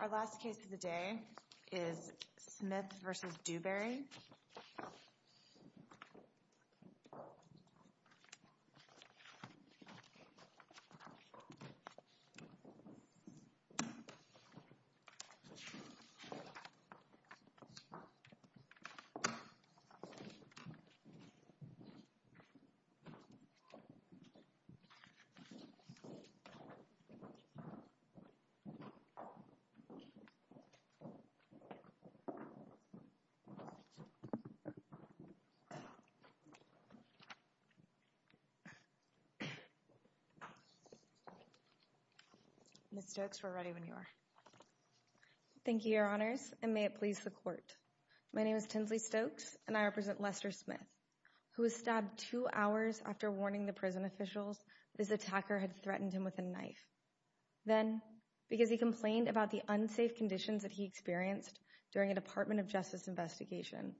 Our last case of the day is Smith v. Dewberry. Ms. Stokes, we're ready when you are. Thank you, Your Honors, and may it please the Court. My name is Tinsley Stokes, and I represent Lester Smith, who was stabbed two hours after warning the prison officials this attacker had threatened him with a knife. Then, because he complained about the unsafe conditions that he experienced during a Department of Justice investigation,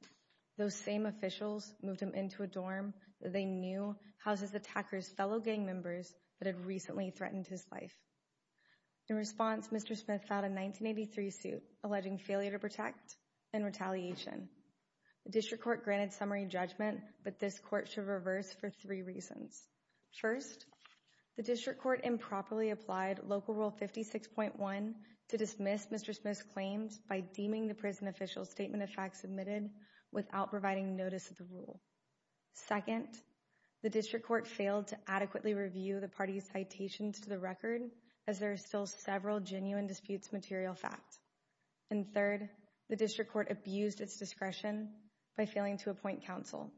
those same officials moved him into a dorm that they knew houses the attacker's fellow gang members that had recently threatened his life. In response, Mr. Smith filed a 1983 suit alleging failure to protect and retaliation. The District Court granted summary judgment, but this Court should reverse for three reasons. First, the District Court improperly applied Local Rule 56.1 to dismiss Mr. Smith's claims by deeming the prison officials' statement of facts admitted without providing notice of the rule. Second, the District Court failed to adequately review the party's citations to the record, as there are still several genuine disputes material fact. And third, the District Court abused its discretion by failing to appoint counsel.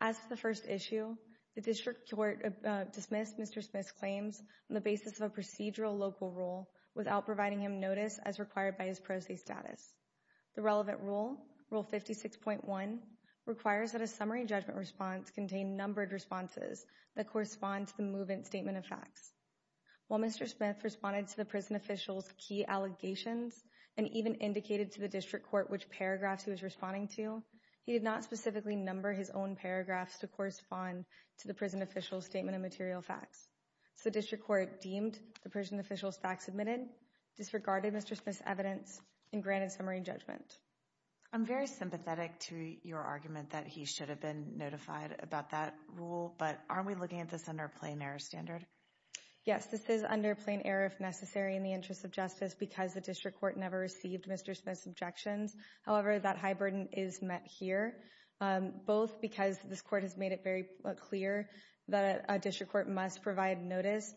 As for the first issue, the District Court dismissed Mr. Smith's claims on the basis of a procedural local rule without providing him notice as required by his pro se status. The relevant rule, Rule 56.1, requires that a summary judgment response contain numbered responses that correspond to the movement statement of facts. While Mr. Smith responded to the prison officials' key allegations and even indicated to the District Court which paragraphs he was responding to, he did not specifically number his own paragraphs to correspond to the prison officials' statement of material facts. So the District Court deemed the prison officials' facts admitted, disregarded Mr. Smith's evidence, and granted summary judgment. I'm very sympathetic to your argument that he should have been notified about that rule, but aren't we looking at this under a plain error standard? Yes, this is under plain error if necessary in the interest of justice because the District Court never received Mr. Smith's objections. However, that high burden is met here, both because this Court has made it very clear that a District Court must provide notice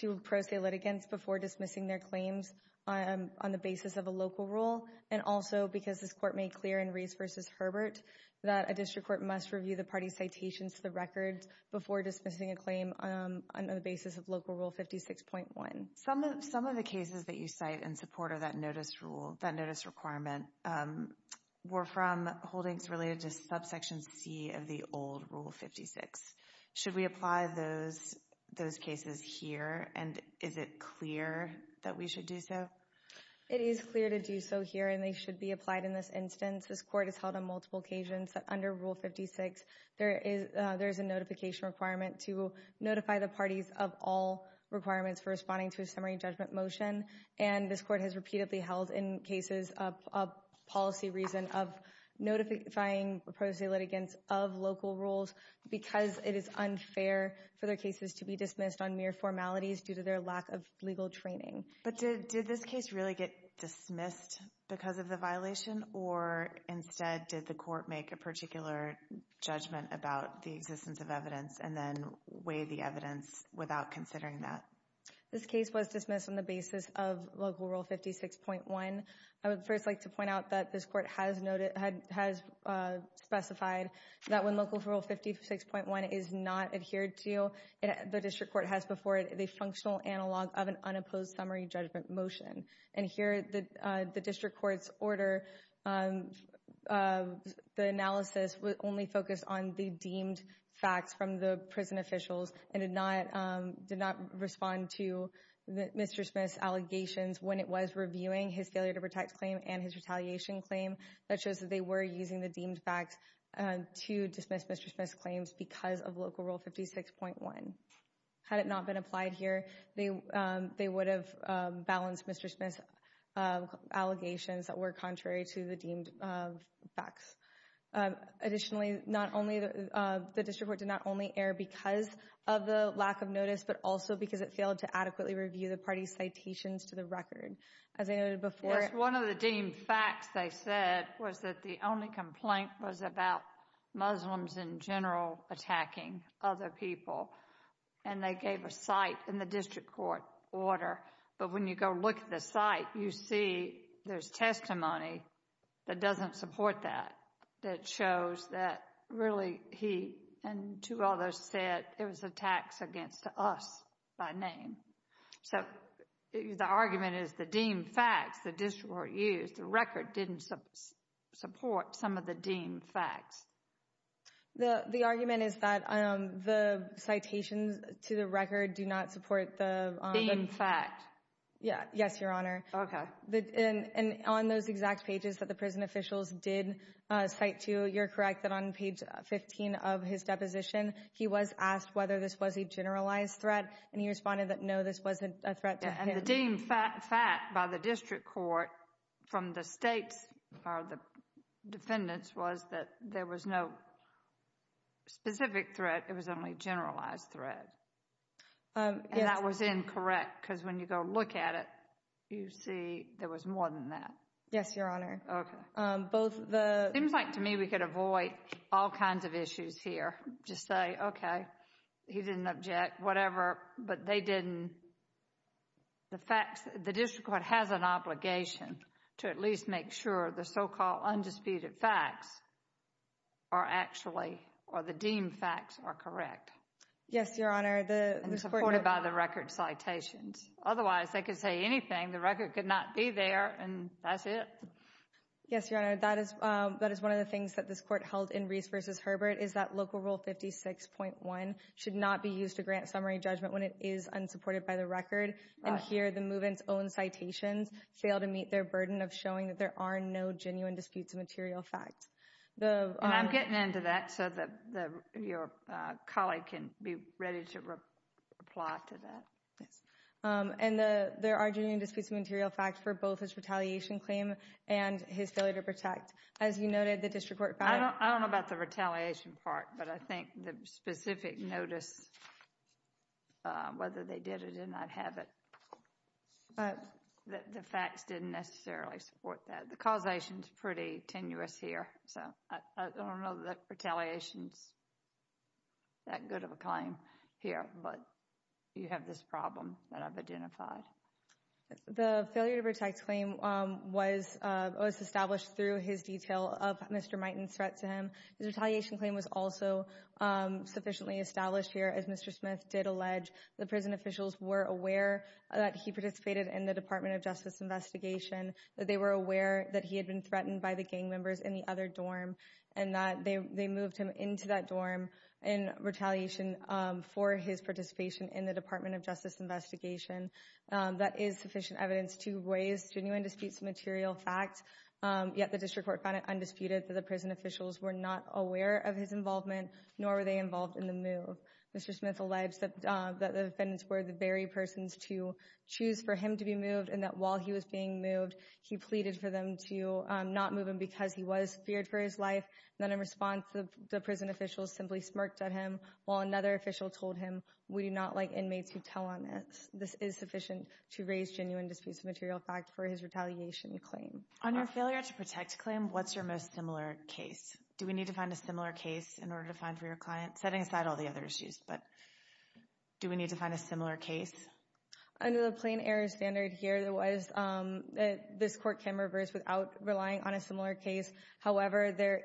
to pro se litigants before dismissing their claims on the basis of a local rule, and also because this Court made clear in Reese v. Herbert that a District Court must review the party's citations to the record before dismissing a claim on the basis of Local Rule 56.1. Some of the cases that you cite in support of that notice rule, were from holdings related to subsection C of the old Rule 56. Should we apply those cases here, and is it clear that we should do so? It is clear to do so here, and they should be applied in this instance. This Court has held on multiple occasions that under Rule 56 there is a notification requirement to notify the parties of all requirements for responding to a summary judgment motion, and this Court has repeatedly held in cases of policy reason of notifying pro se litigants of local rules because it is unfair for their cases to be dismissed on mere formalities due to their lack of legal training. But did this case really get dismissed because of the violation, or instead did the Court make a particular judgment about the existence of evidence and then weigh the evidence without considering that? This case was dismissed on the basis of Local Rule 56.1. I would first like to point out that this Court has specified that when Local Rule 56.1 is not adhered to, the District Court has before it the functional analog of an unopposed summary judgment motion. And here the District Court's order, the analysis was only focused on the deemed facts from the prison officials and did not respond to Mr. Smith's allegations when it was reviewing his failure to protect claim and his retaliation claim. That shows that they were using the deemed facts to dismiss Mr. Smith's claims because of Local Rule 56.1. Had it not been applied here, they would have balanced Mr. Smith's allegations that were contrary to the deemed facts. Additionally, the District Court did not only err because of the lack of notice, but also because it failed to adequately review the party's citations to the record. As I noted before... It's one of the deemed facts they said was that the only complaint was about Muslims in general attacking other people. And they gave a cite in the District Court order. But when you go look at the cite, you see there's testimony that doesn't support that, that shows that really he and two others said it was attacks against us by name. So the argument is the deemed facts the District Court used, the record didn't support some of the deemed facts. The argument is that the citations to the record do not support the... Deemed fact. Yes, Your Honor. Okay. On those exact pages that the prison officials did cite to, you're correct that on page 15 of his deposition, he was asked whether this was a generalized threat, and he responded that no, this wasn't a threat to him. And the deemed fact by the District Court from the state's, or the defendant's, was that there was no specific threat, it was only a generalized threat. And that was incorrect because when you go look at it, you see there was more than that. Yes, Your Honor. Okay. Both the... It seems like to me we could avoid all kinds of issues here, just say, okay, he didn't object, whatever, but they didn't. The facts, the District Court has an obligation to at least make sure the so-called undisputed facts are actually, or the deemed facts are correct. Yes, Your Honor. And supported by the record citations. Otherwise, they could say anything. The record could not be there, and that's it. Yes, Your Honor. That is one of the things that this Court held in Reese v. Herbert, is that Local Rule 56.1 should not be used to grant summary judgment when it is unsupported by the record. And here, the move-in's own citations fail to meet their burden of showing that there are no genuine disputes of material facts. And I'm getting into that so that your colleague can be ready to reply to that. Yes. And there are genuine disputes of material facts for both his retaliation claim and his failure to protect. As you noted, the District Court found— I don't know about the retaliation part, but I think the specific notice, whether they did it or did not have it, the facts didn't necessarily support that. The causation's pretty tenuous here, so I don't know that retaliation's that good of a claim here, but you have this problem that I've identified. The failure to protect claim was established through his detail of Mr. Miten's threat to him. His retaliation claim was also sufficiently established here, as Mr. Smith did allege. The prison officials were aware that he participated in the Department of Justice investigation, that they were aware that he had been threatened and that they moved him into that dorm in retaliation for his participation in the Department of Justice investigation. That is sufficient evidence to raise genuine disputes of material facts, yet the District Court found it undisputed that the prison officials were not aware of his involvement, nor were they involved in the move. Mr. Smith alleged that the defendants were the very persons to choose for him to be moved and that while he was being moved, he pleaded for them to not move him because he was feared for his life, yet in response, the prison officials simply smirked at him while another official told him, we do not like inmates who tell on us. This is sufficient to raise genuine disputes of material facts for his retaliation claim. On your failure to protect claim, what's your most similar case? Do we need to find a similar case in order to find for your client? Setting aside all the other issues, but do we need to find a similar case? Under the plain error standard here, this court can reverse without relying on a similar case. However, there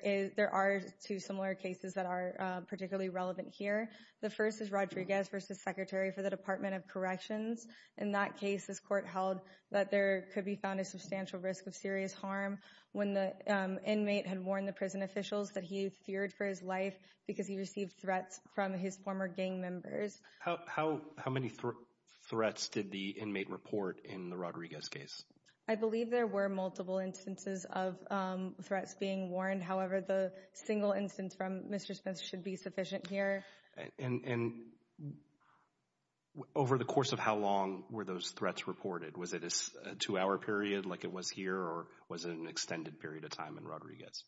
are two similar cases that are particularly relevant here. The first is Rodriguez v. Secretary for the Department of Corrections. In that case, this court held that there could be found a substantial risk of serious harm when the inmate had warned the prison officials that he feared for his life because he received threats from his former gang members. How many threats did the inmate report in the Rodriguez case? I believe there were multiple instances of threats being warned. However, the single instance from Mr. Smith should be sufficient here. And over the course of how long were those threats reported? Was it a two-hour period like it was here, or was it an extended period of time in Rodriguez?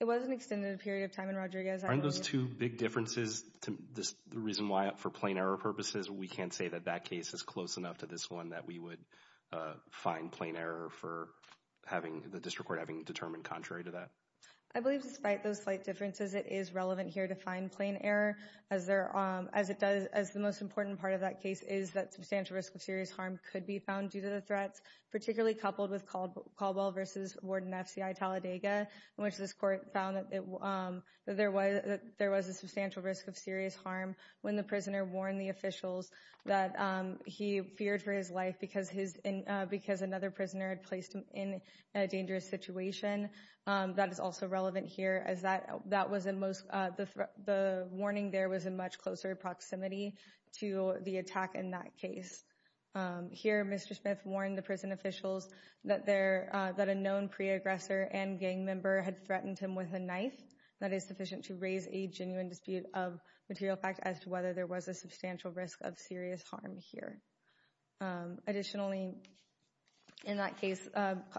It was an extended period of time in Rodriguez. Aren't those two big differences the reason why for plain error purposes? We can't say that that case is close enough to this one that we would find plain error for the district court having determined contrary to that. I believe despite those slight differences, it is relevant here to find plain error, as the most important part of that case is that substantial risk of serious harm could be found due to the threats, particularly coupled with Caldwell v. Warden F.C.I. Talladega, in which this court found that there was a substantial risk of serious harm when the prisoner warned the officials that he feared for his life because another prisoner had placed him in a dangerous situation. That is also relevant here, as the warning there was in much closer proximity to the attack in that case. Here, Mr. Smith warned the prison officials that a known pre-aggressor and gang member had threatened him with a knife. That is sufficient to raise a genuine dispute of material fact as to whether there was a substantial risk of serious harm here. Additionally, in that case,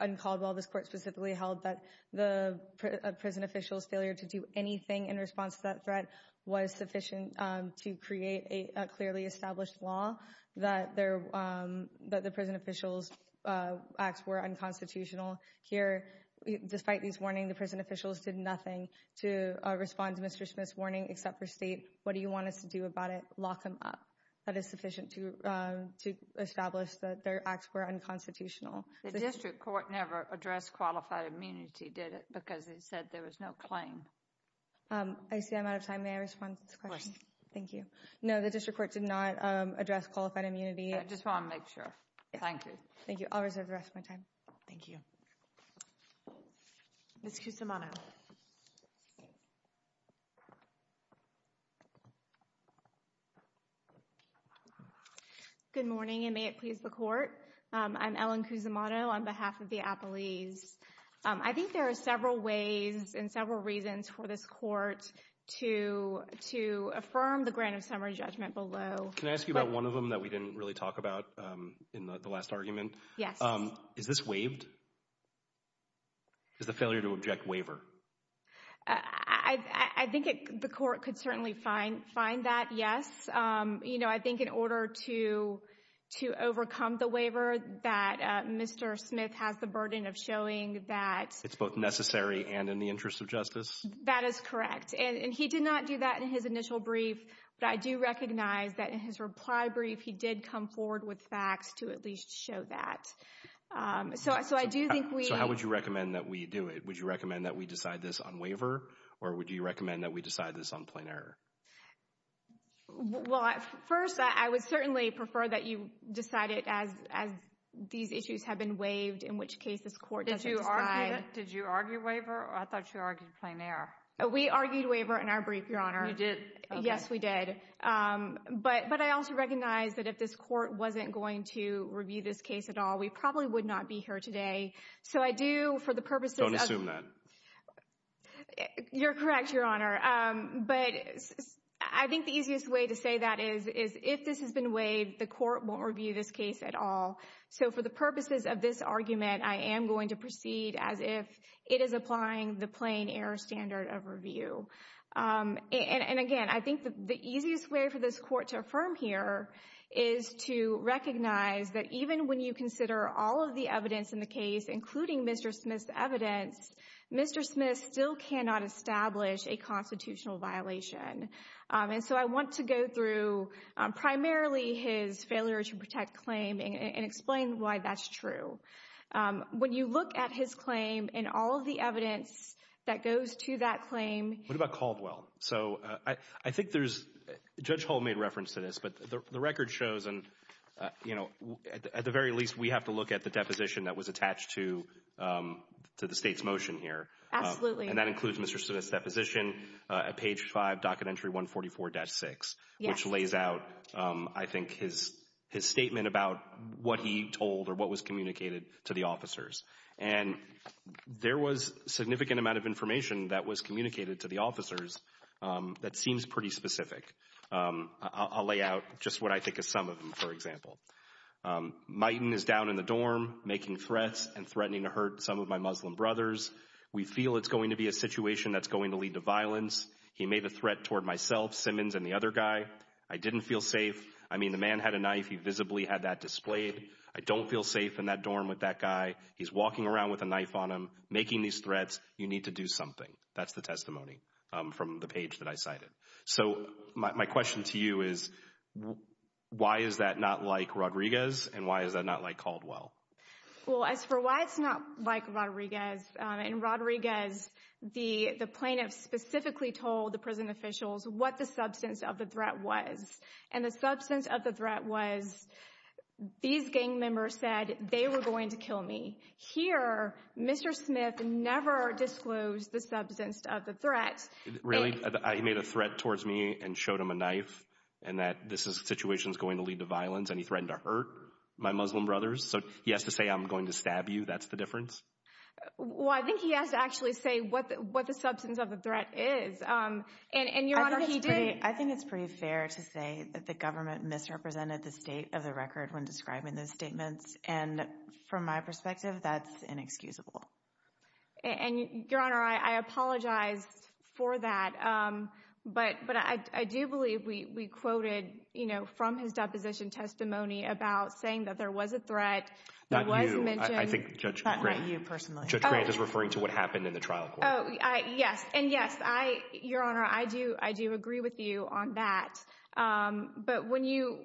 in Caldwell, this court specifically held that the prison officials' failure to do anything in response to that threat was sufficient to create a clearly established law that the prison officials' acts were unconstitutional. Here, despite these warnings, the prison officials did nothing to respond to Mr. Smith's warning except for state, what do you want us to do about it, lock him up. That is sufficient to establish that their acts were unconstitutional. The district court never addressed qualified immunity, did it? Because it said there was no claim. I see I'm out of time. May I respond to this question? Of course. Thank you. No, the district court did not address qualified immunity. I just want to make sure. Thank you. Thank you. I'll reserve the rest of my time. Thank you. Ms. Cusimano. Good morning, and may it please the court. I'm Ellen Cusimano on behalf of the appellees. I think there are several ways and several reasons for this court to affirm the grant of summary judgment below. Can I ask you about one of them that we didn't really talk about in the last argument? Yes. Is this waived? Is the failure to object waiver? I think the court could certainly find that, yes. You know, I think in order to overcome the waiver that Mr. Smith has the burden of showing that. It's both necessary and in the interest of justice. That is correct. And he did not do that in his initial brief. But I do recognize that in his reply brief, he did come forward with facts to at least show that. So I do think we. So how would you recommend that we do it? Would you recommend that we decide this on waiver? Or would you recommend that we decide this on plain error? Well, at first, I would certainly prefer that you decide it as, as these issues have been waived, in which case this court. Did you argue waiver? I thought you argued plain error. We argued waiver in our brief, Your Honor. You did. Yes, we did. But, but I also recognize that if this court wasn't going to review this case at all, we probably would not be here today. So I do, for the purposes. Don't assume that. You're correct, Your Honor. But I think the easiest way to say that is, is if this has been waived, the court won't review this case at all. So for the purposes of this argument, I am going to proceed as if it is applying the plain error standard of review. And, and again, I think the easiest way for this court to affirm here is to recognize that even when you consider all of the evidence in the case, including Mr. Smith's evidence, Mr. Smith still cannot establish a constitutional violation. And so I want to go through primarily his failure to protect claim and explain why that's true. When you look at his claim and all of the evidence that goes to that claim. What about Caldwell? So I think there's, Judge Hull made reference to this, but the record shows, and, you know, at the very least, we have to look at the deposition that was attached to the state's motion here. Absolutely. And that includes Mr. Smith's deposition at page five, docket entry 144-6, which lays out, I think, his statement about what he told or what was communicated to the officers. And there was a significant amount of information that was communicated to the officers that seems pretty specific. I'll lay out just what I think is some of them. For example, Myton is down in the dorm making threats and threatening to hurt some of my Muslim brothers. We feel it's going to be a situation that's going to lead to violence. He made a threat toward myself, Simmons, and the other guy. I didn't feel safe. I mean, the man had a knife. He visibly had that displayed. I don't feel safe in that dorm with that guy. He's walking around with a knife on him, making these threats. You need to do something. That's the testimony from the page that I cited. So, my question to you is, why is that not like Rodriguez and why is that not like Caldwell? Well, as for why it's not like Rodriguez, in Rodriguez the plaintiffs specifically told the prison officials what the substance of the threat was. And the substance of the threat was, these gang members said they were going to kill me. Here, Mr. Smith never disclosed the substance of the threat. Really? He made a threat towards me and showed him a knife and that this situation is going to lead to violence? And he threatened to hurt my Muslim brothers? So, he has to say I'm going to stab you? That's the difference? Well, I think he has to actually say what the substance of the threat is. And, Your Honor, he did. I think it's pretty fair to say that the government misrepresented the state of the record when describing those statements. And, from my perspective, that's inexcusable. And, Your Honor, I apologize for that. But I do believe we quoted, you know, from his deposition testimony about saying that there was a threat that was mentioned. Not you. I think Judge Grant is referring to what happened in the trial court. Yes. And, yes, Your Honor, I do agree with you on that. But when you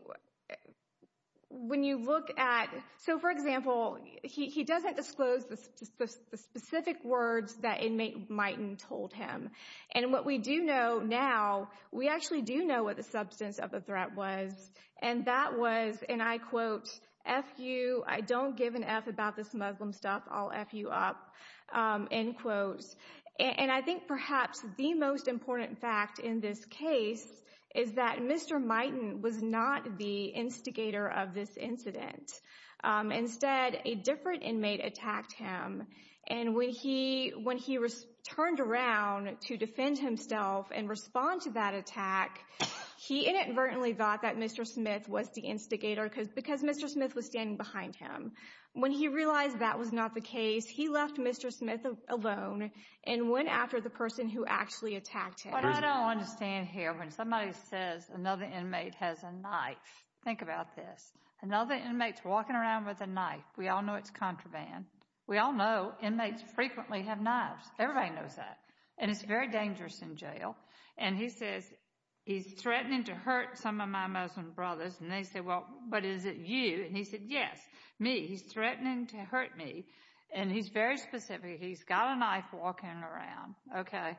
look at, so, for example, he doesn't disclose the specific words that inmate Miten told him. And what we do know now, we actually do know what the substance of the threat was. And that was, and I quote, F you. I don't give an F about this Muslim stuff. I'll F you up. End quote. And I think perhaps the most important fact in this case is that Mr. Miten was not the instigator of this incident. Instead, a different inmate attacked him. And when he turned around to defend himself and respond to that attack, he inadvertently thought that Mr. Smith was the instigator because Mr. Smith was standing behind him. When he realized that was not the case, he left Mr. Smith alone and went after the person who actually attacked him. But I don't understand here. When somebody says another inmate has a knife, think about this. Another inmate's walking around with a knife. We all know it's contraband. We all know inmates frequently have knives. Everybody knows that. And it's very dangerous in jail. And he says he's threatening to hurt some of my Muslim brothers. And they say, well, but is it you? And he said, yes, me. He's threatening to hurt me. And he's very specific. He's got a knife walking around. Okay.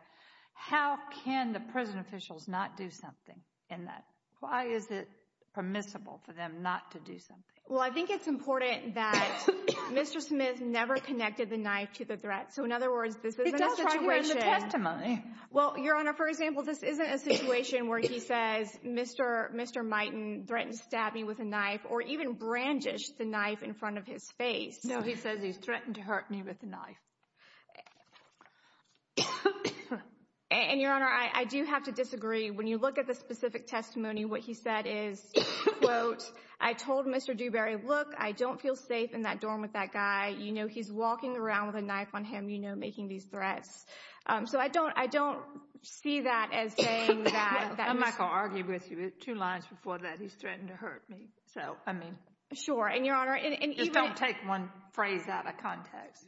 How can the prison officials not do something in that? Why is it permissible for them not to do something? Well, I think it's important that Mr. Smith never connected the knife to the threat. So, in other words, this isn't a situation. It does appear in the testimony. Well, Your Honor, for example, this isn't a situation where he says, Mr. Mighton threatened to stab me with a knife, or even brandished the knife in front of his face. No, he says he's threatened to hurt me with a knife. And, Your Honor, I do have to disagree. When you look at the specific testimony, what he said is, quote, I told Mr. Dewberry, look, I don't feel safe in that dorm with that guy. You know he's walking around with a knife on him, you know, making these threats. So I don't see that as saying that. I'm not going to argue with you. Two lines before that, he's threatening to hurt me. So, I mean. Sure. And, Your Honor. Just don't take one phrase out of context.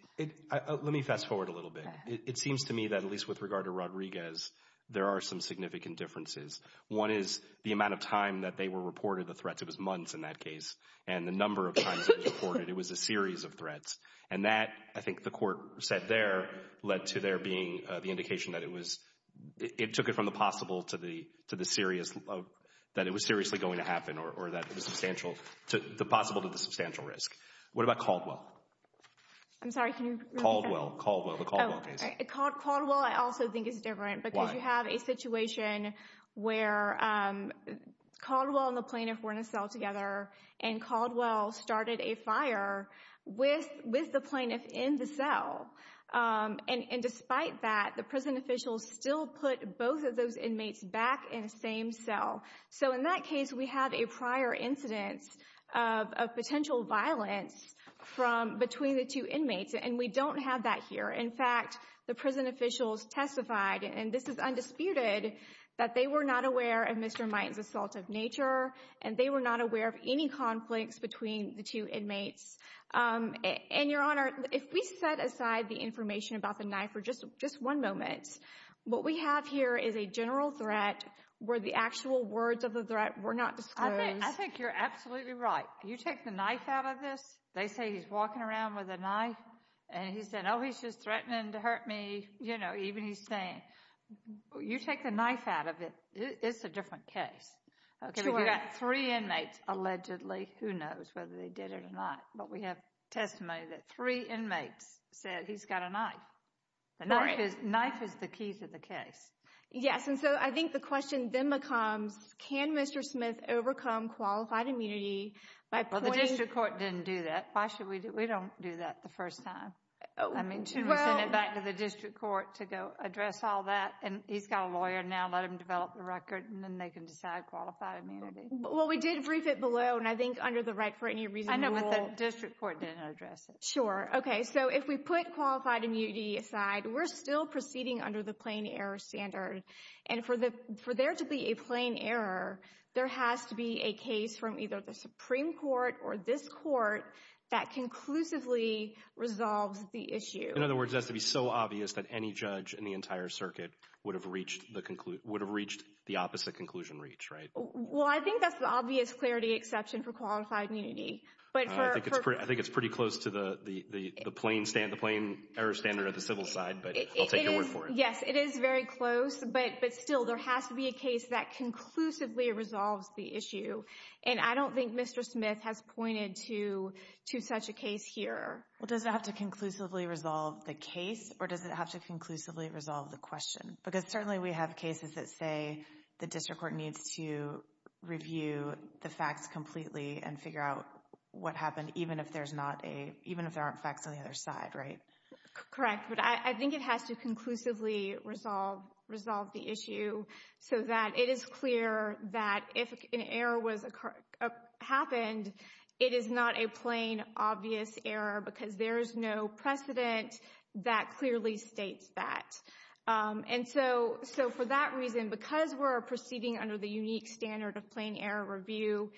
Let me fast forward a little bit. It seems to me that, at least with regard to Rodriguez, there are some significant differences. One is the amount of time that they were reported the threats. It was months in that case. And the number of times it was reported. It was a series of threats. And that, I think the court said there, led to there being the indication that it was, it took it from the possible to the serious, that it was seriously going to happen, or that it was substantial. The possible to the substantial risk. What about Caldwell? I'm sorry, can you repeat that? Caldwell. Caldwell. The Caldwell case. Caldwell, I also think, is different. Why? Because you have a situation where Caldwell and the plaintiff were in a cell together. And Caldwell started a fire with the plaintiff in the cell. And despite that, the prison officials still put both of those inmates back in the same cell. So, in that case, we have a prior incidence of potential violence between the two inmates. And we don't have that here. In fact, the prison officials testified, and this is undisputed, that they were not aware of Mr. Might's assault of nature, and they were not aware of any conflicts between the two inmates. And, Your Honor, if we set aside the information about the knife for just one moment, what we have here is a general threat where the actual words of the threat were not disclosed. I think you're absolutely right. You take the knife out of this, they say he's walking around with a knife, and he said, oh, he's just threatening to hurt me. You know, even he's saying. You take the knife out of it, it's a different case. You've got three inmates, allegedly. Who knows whether they did it or not? But we have testimony that three inmates said he's got a knife. The knife is the key to the case. Yes, and so I think the question then becomes, can Mr. Smith overcome qualified immunity by pointing? Well, the district court didn't do that. Why should we do that? We don't do that the first time. I mean, should we send it back to the district court to go address all that? And he's got a lawyer now. Let him develop the record, and then they can decide qualified immunity. Well, we did brief it below, and I think under the right for any reason rule. I know, but the district court didn't address it. Sure. Okay, so if we put qualified immunity aside, we're still proceeding under the plain error standard. And for there to be a plain error, there has to be a case from either the Supreme Court or this court that conclusively resolves the issue. In other words, it has to be so obvious that any judge in the entire circuit would have reached the opposite conclusion reach, right? Well, I think that's the obvious clarity exception for qualified immunity. I think it's pretty close to the plain error standard of the civil side, but I'll take your word for it. Yes, it is very close, but still, there has to be a case that conclusively resolves the issue. And I don't think Mr. Smith has pointed to such a case here. Well, does it have to conclusively resolve the case, or does it have to conclusively resolve the question? Because certainly we have cases that say the district court needs to review the facts completely and figure out what happened, even if there aren't facts on the other side, right? Correct, but I think it has to conclusively resolve the issue so that it is clear that if an error happened, it is not a plain obvious error because there is no precedent that clearly states that. And so for that reason, because we're proceeding under the unique standard of plain error review,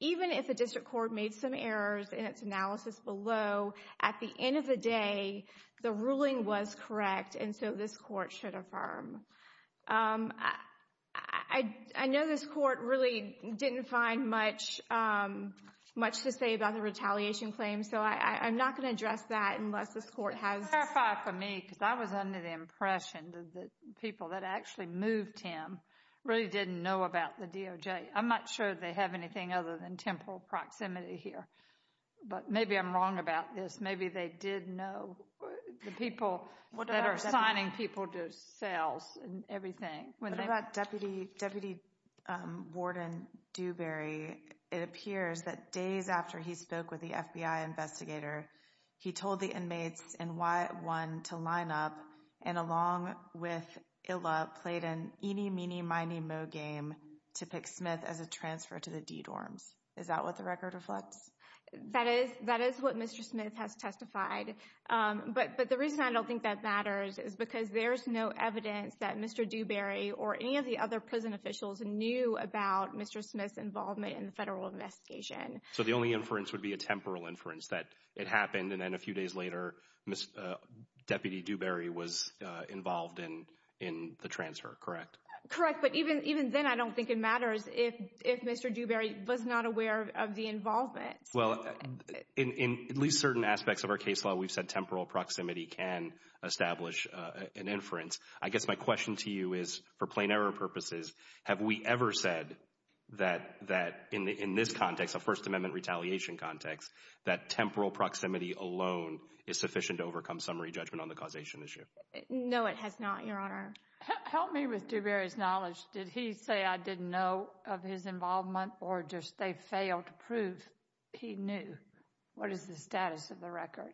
even if the district court made some errors in its analysis below, at the end of the day, the ruling was correct, and so this court should affirm. I know this court really didn't find much to say about the retaliation claim, so I'm not going to address that unless this court has— Clarify for me, because I was under the impression that the people that actually moved him really didn't know about the DOJ. I'm not sure they have anything other than temporal proximity here, but maybe I'm wrong about this. Maybe they did know the people that are assigning people to cells and everything. What about Deputy Warden Dewberry? It appears that days after he spoke with the FBI investigator, he told the inmates in Y1 to line up and along with Illa played an eeny, meeny, miny, moe game to pick Smith as a transfer to the D-dorms. Is that what the record reflects? That is what Mr. Smith has testified, but the reason I don't think that matters is because there's no evidence that Mr. Dewberry or any of the other prison officials knew about Mr. Smith's involvement in the federal investigation. So the only inference would be a temporal inference that it happened and then a few days later, Deputy Dewberry was involved in the transfer, correct? Correct, but even then I don't think it matters if Mr. Dewberry was not aware of the involvement. Well, in at least certain aspects of our case law, we've said temporal proximity can establish an inference. I guess my question to you is, for plain error purposes, have we ever said that in this context, a First Amendment retaliation context, that temporal proximity alone is sufficient to overcome summary judgment on the causation issue? No, it has not, Your Honor. Help me with Dewberry's knowledge. Did he say, I didn't know of his involvement or just they failed to prove he knew? What is the status of the record?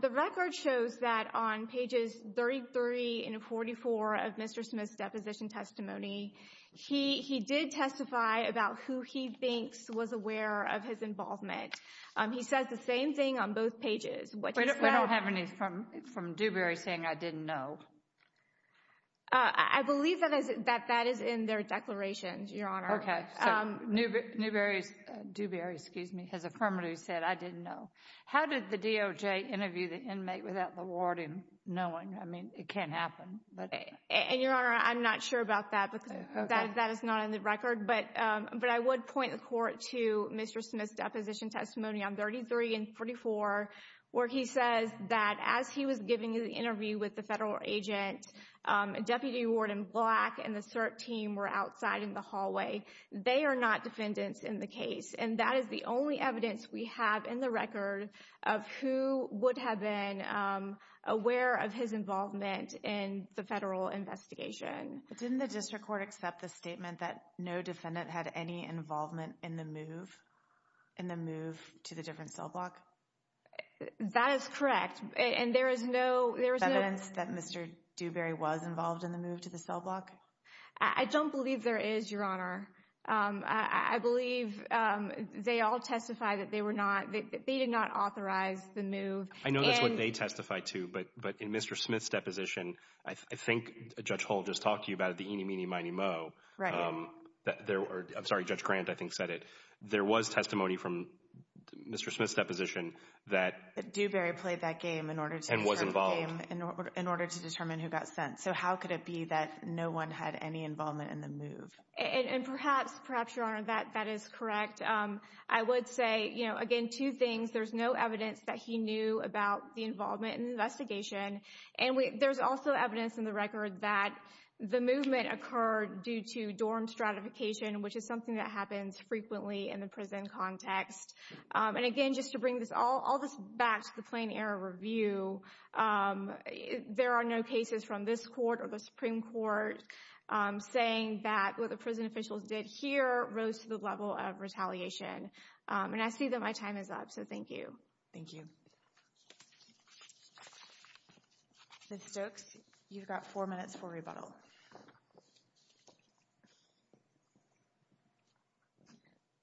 The record shows that on pages 33 and 44 of Mr. Smith's deposition testimony, he did testify about who he thinks was aware of his involvement. He says the same thing on both pages. We don't have any from Dewberry saying, I didn't know. I believe that that is in their declarations, Your Honor. Okay, so Dewberry has affirmatively said, I didn't know. How did the DOJ interview the inmate without the warden knowing? I mean, it can't happen. And, Your Honor, I'm not sure about that because that is not in the record. But I would point the Court to Mr. Smith's deposition testimony on 33 and 44 where he says that as he was giving the interview with the federal agent, Deputy Warden Black and the CERT team were outside in the hallway. They are not defendants in the case. And that is the only evidence we have in the record of who would have been aware of his involvement in the federal investigation. Didn't the District Court accept the statement that no defendant had any involvement in the move to the different cell block? That is correct. And there is no evidence that Mr. Dewberry was involved in the move to the cell block? I don't believe there is, Your Honor. I believe they all testify that they were not, they did not authorize the move. I know that's what they testify to, but in Mr. Smith's deposition, I think Judge Hull just talked to you about the eeny, meeny, miny, moe. Right. I'm sorry, Judge Grant I think said it. There was testimony from Mr. Smith's deposition that Dewberry played that game in order to and was involved in order to determine who got sent. So how could it be that no one had any involvement in the move? And perhaps, Your Honor, that is correct. I would say, you know, again, two things. There's no evidence that he knew about the involvement in the investigation. And there's also evidence in the record that the movement occurred due to dorm stratification, which is something that happens frequently in the prison context. And again, just to bring all this back to the plain error review, there are no cases from this court or the Supreme Court saying that what the prison officials did here rose to the level of retaliation. And I see that my time is up, so thank you. Thank you. Ms. Stokes, you've got four minutes for rebuttal.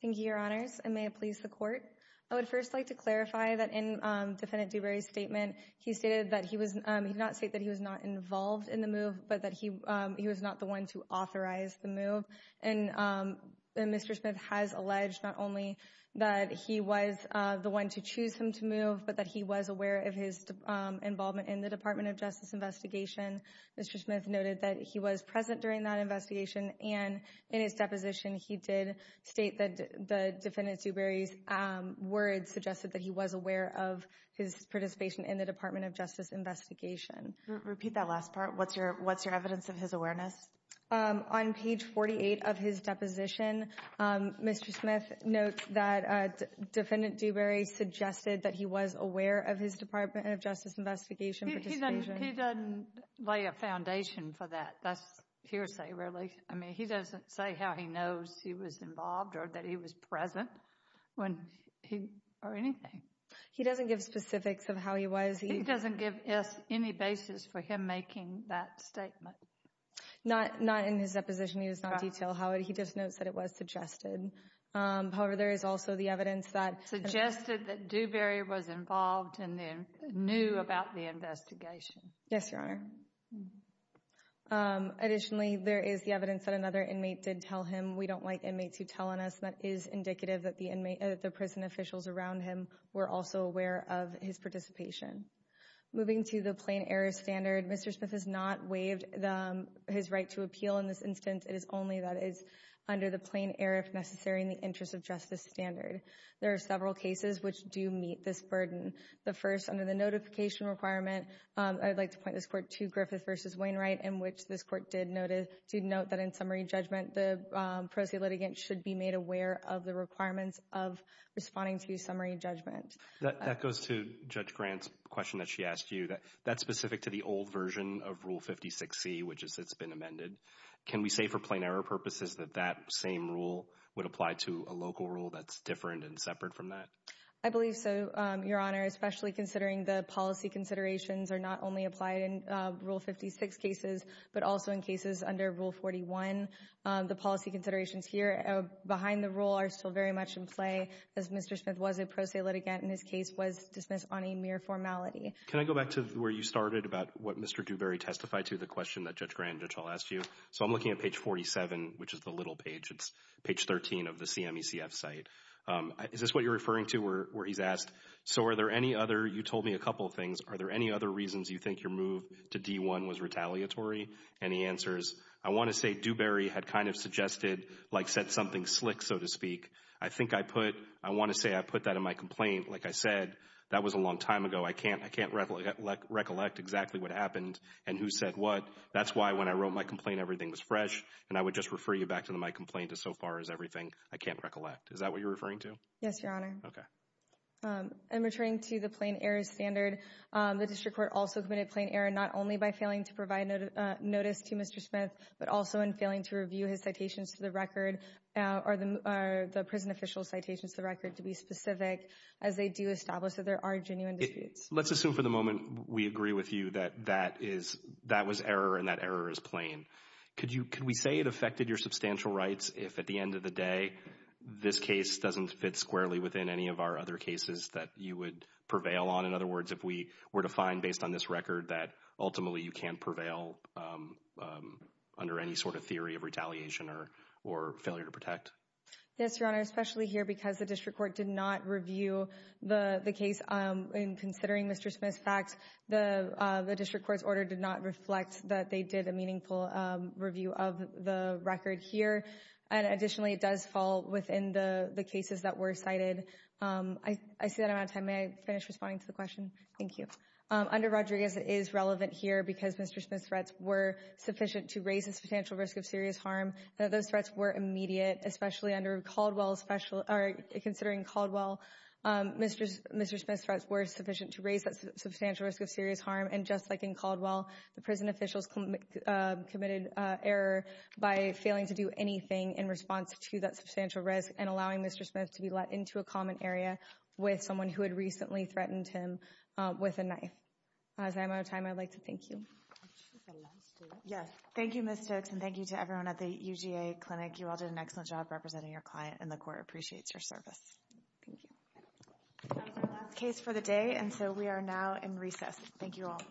Thank you, Your Honors. And may it please the Court, I would first like to clarify that in Defendant Dewberry's statement, he stated that he did not state that he was not involved in the move, but that he was not the one to authorize the move. And Mr. Smith has alleged not only that he was the one to choose him to move, but that he was aware of his involvement in the Department of Justice investigation. Mr. Smith noted that he was present during that investigation. And in his deposition, he did state that the Defendant Dewberry's words suggested that he was aware of his participation in the Department of Justice investigation. Repeat that last part. What's your evidence of his awareness? On page 48 of his deposition, Mr. Smith notes that Defendant Dewberry suggested that he was aware of his Department of Justice investigation participation. He doesn't lay a foundation for that. That's hearsay, really. I mean, he doesn't say how he knows he was involved or that he was present or anything. He doesn't give specifics of how he was. He doesn't give us any basis for him making that statement. Not in his deposition. He does not detail how. He just notes that it was suggested. However, there is also the evidence that— Suggested that Dewberry was involved and knew about the investigation. Yes, Your Honor. Additionally, there is the evidence that another inmate did tell him. We don't like inmates who tell on us. That is indicative that the prison officials around him were also aware of his participation. Moving to the plain error standard, Mr. Smith has not waived his right to appeal in this instance. It is only that it is under the plain error, if necessary, in the interest of justice standard. There are several cases which do meet this burden. The first, under the notification requirement, I would like to point this court to Griffith v. Wainwright, in which this court did note that in summary judgment, the pro se litigant should be made aware of the requirements of responding to summary judgment. That goes to Judge Grant's question that she asked you. That's specific to the old version of Rule 56C, which is it's been amended. Can we say for plain error purposes that that same rule would apply to a local rule that's different and separate from that? I believe so, Your Honor, especially considering the policy considerations are not only applied in Rule 56 cases, but also in cases under Rule 41. The policy considerations here behind the rule are still very much in play, as Mr. Smith was a pro se litigant and his case was dismissed on a mere formality. Can I go back to where you started about what Mr. Dewberry testified to, the question that Judge Grant and Judge Hall asked you? So I'm looking at page 47, which is the little page. It's page 13 of the CMECF site. Is this what you're referring to where he's asked, so are there any other, you told me a couple of things, are there any other reasons you think your move to D-1 was retaliatory? Any answers? I want to say Dewberry had kind of suggested, like said something slick, so to speak. I think I put, I want to say I put that in my complaint. Like I said, that was a long time ago. I can't recollect exactly what happened and who said what. That's why when I wrote my complaint, everything was fresh, and I would just refer you back to my complaint as so far as everything, I can't recollect. Is that what you're referring to? Yes, Your Honor. Okay. In returning to the plain error standard, the district court also committed plain error not only by failing to provide notice to Mr. Smith, but also in failing to review his citations to the record, or the prison official's citations to the record to be specific, as they do establish that there are genuine disputes. Let's assume for the moment we agree with you that that is, that was error and that error is plain. Could you, could we say it affected your substantial rights if at the end of the day this case doesn't fit squarely within any of our other cases that you would prevail on? In other words, if we were to find based on this record that ultimately you can't prevail under any sort of theory of retaliation or failure to protect? Yes, Your Honor. Especially here because the district court did not review the case. In considering Mr. Smith's facts, the district court's order did not reflect that they did a meaningful review of the record here. And additionally, it does fall within the cases that were cited. I see that I'm out of time. May I finish responding to the question? Thank you. Under Rodriguez, it is relevant here because Mr. Smith's threats were sufficient to raise the substantial risk of serious harm. Those threats were immediate, especially under Caldwell's special, or considering Caldwell. Mr. Smith's threats were sufficient to raise that substantial risk of serious harm. And just like in Caldwell, the prison officials committed error by failing to do anything in response to that substantial risk and allowing Mr. Smith to be let into a common area with someone who had recently threatened him with a knife. As I'm out of time, I'd like to thank you. Yes. Thank you, Ms. Stokes, and thank you to everyone at the UGA clinic. You all did an excellent job representing your client, and the court appreciates your service. Thank you. That was our last case for the day, and so we are now in recess. Thank you all. All rise.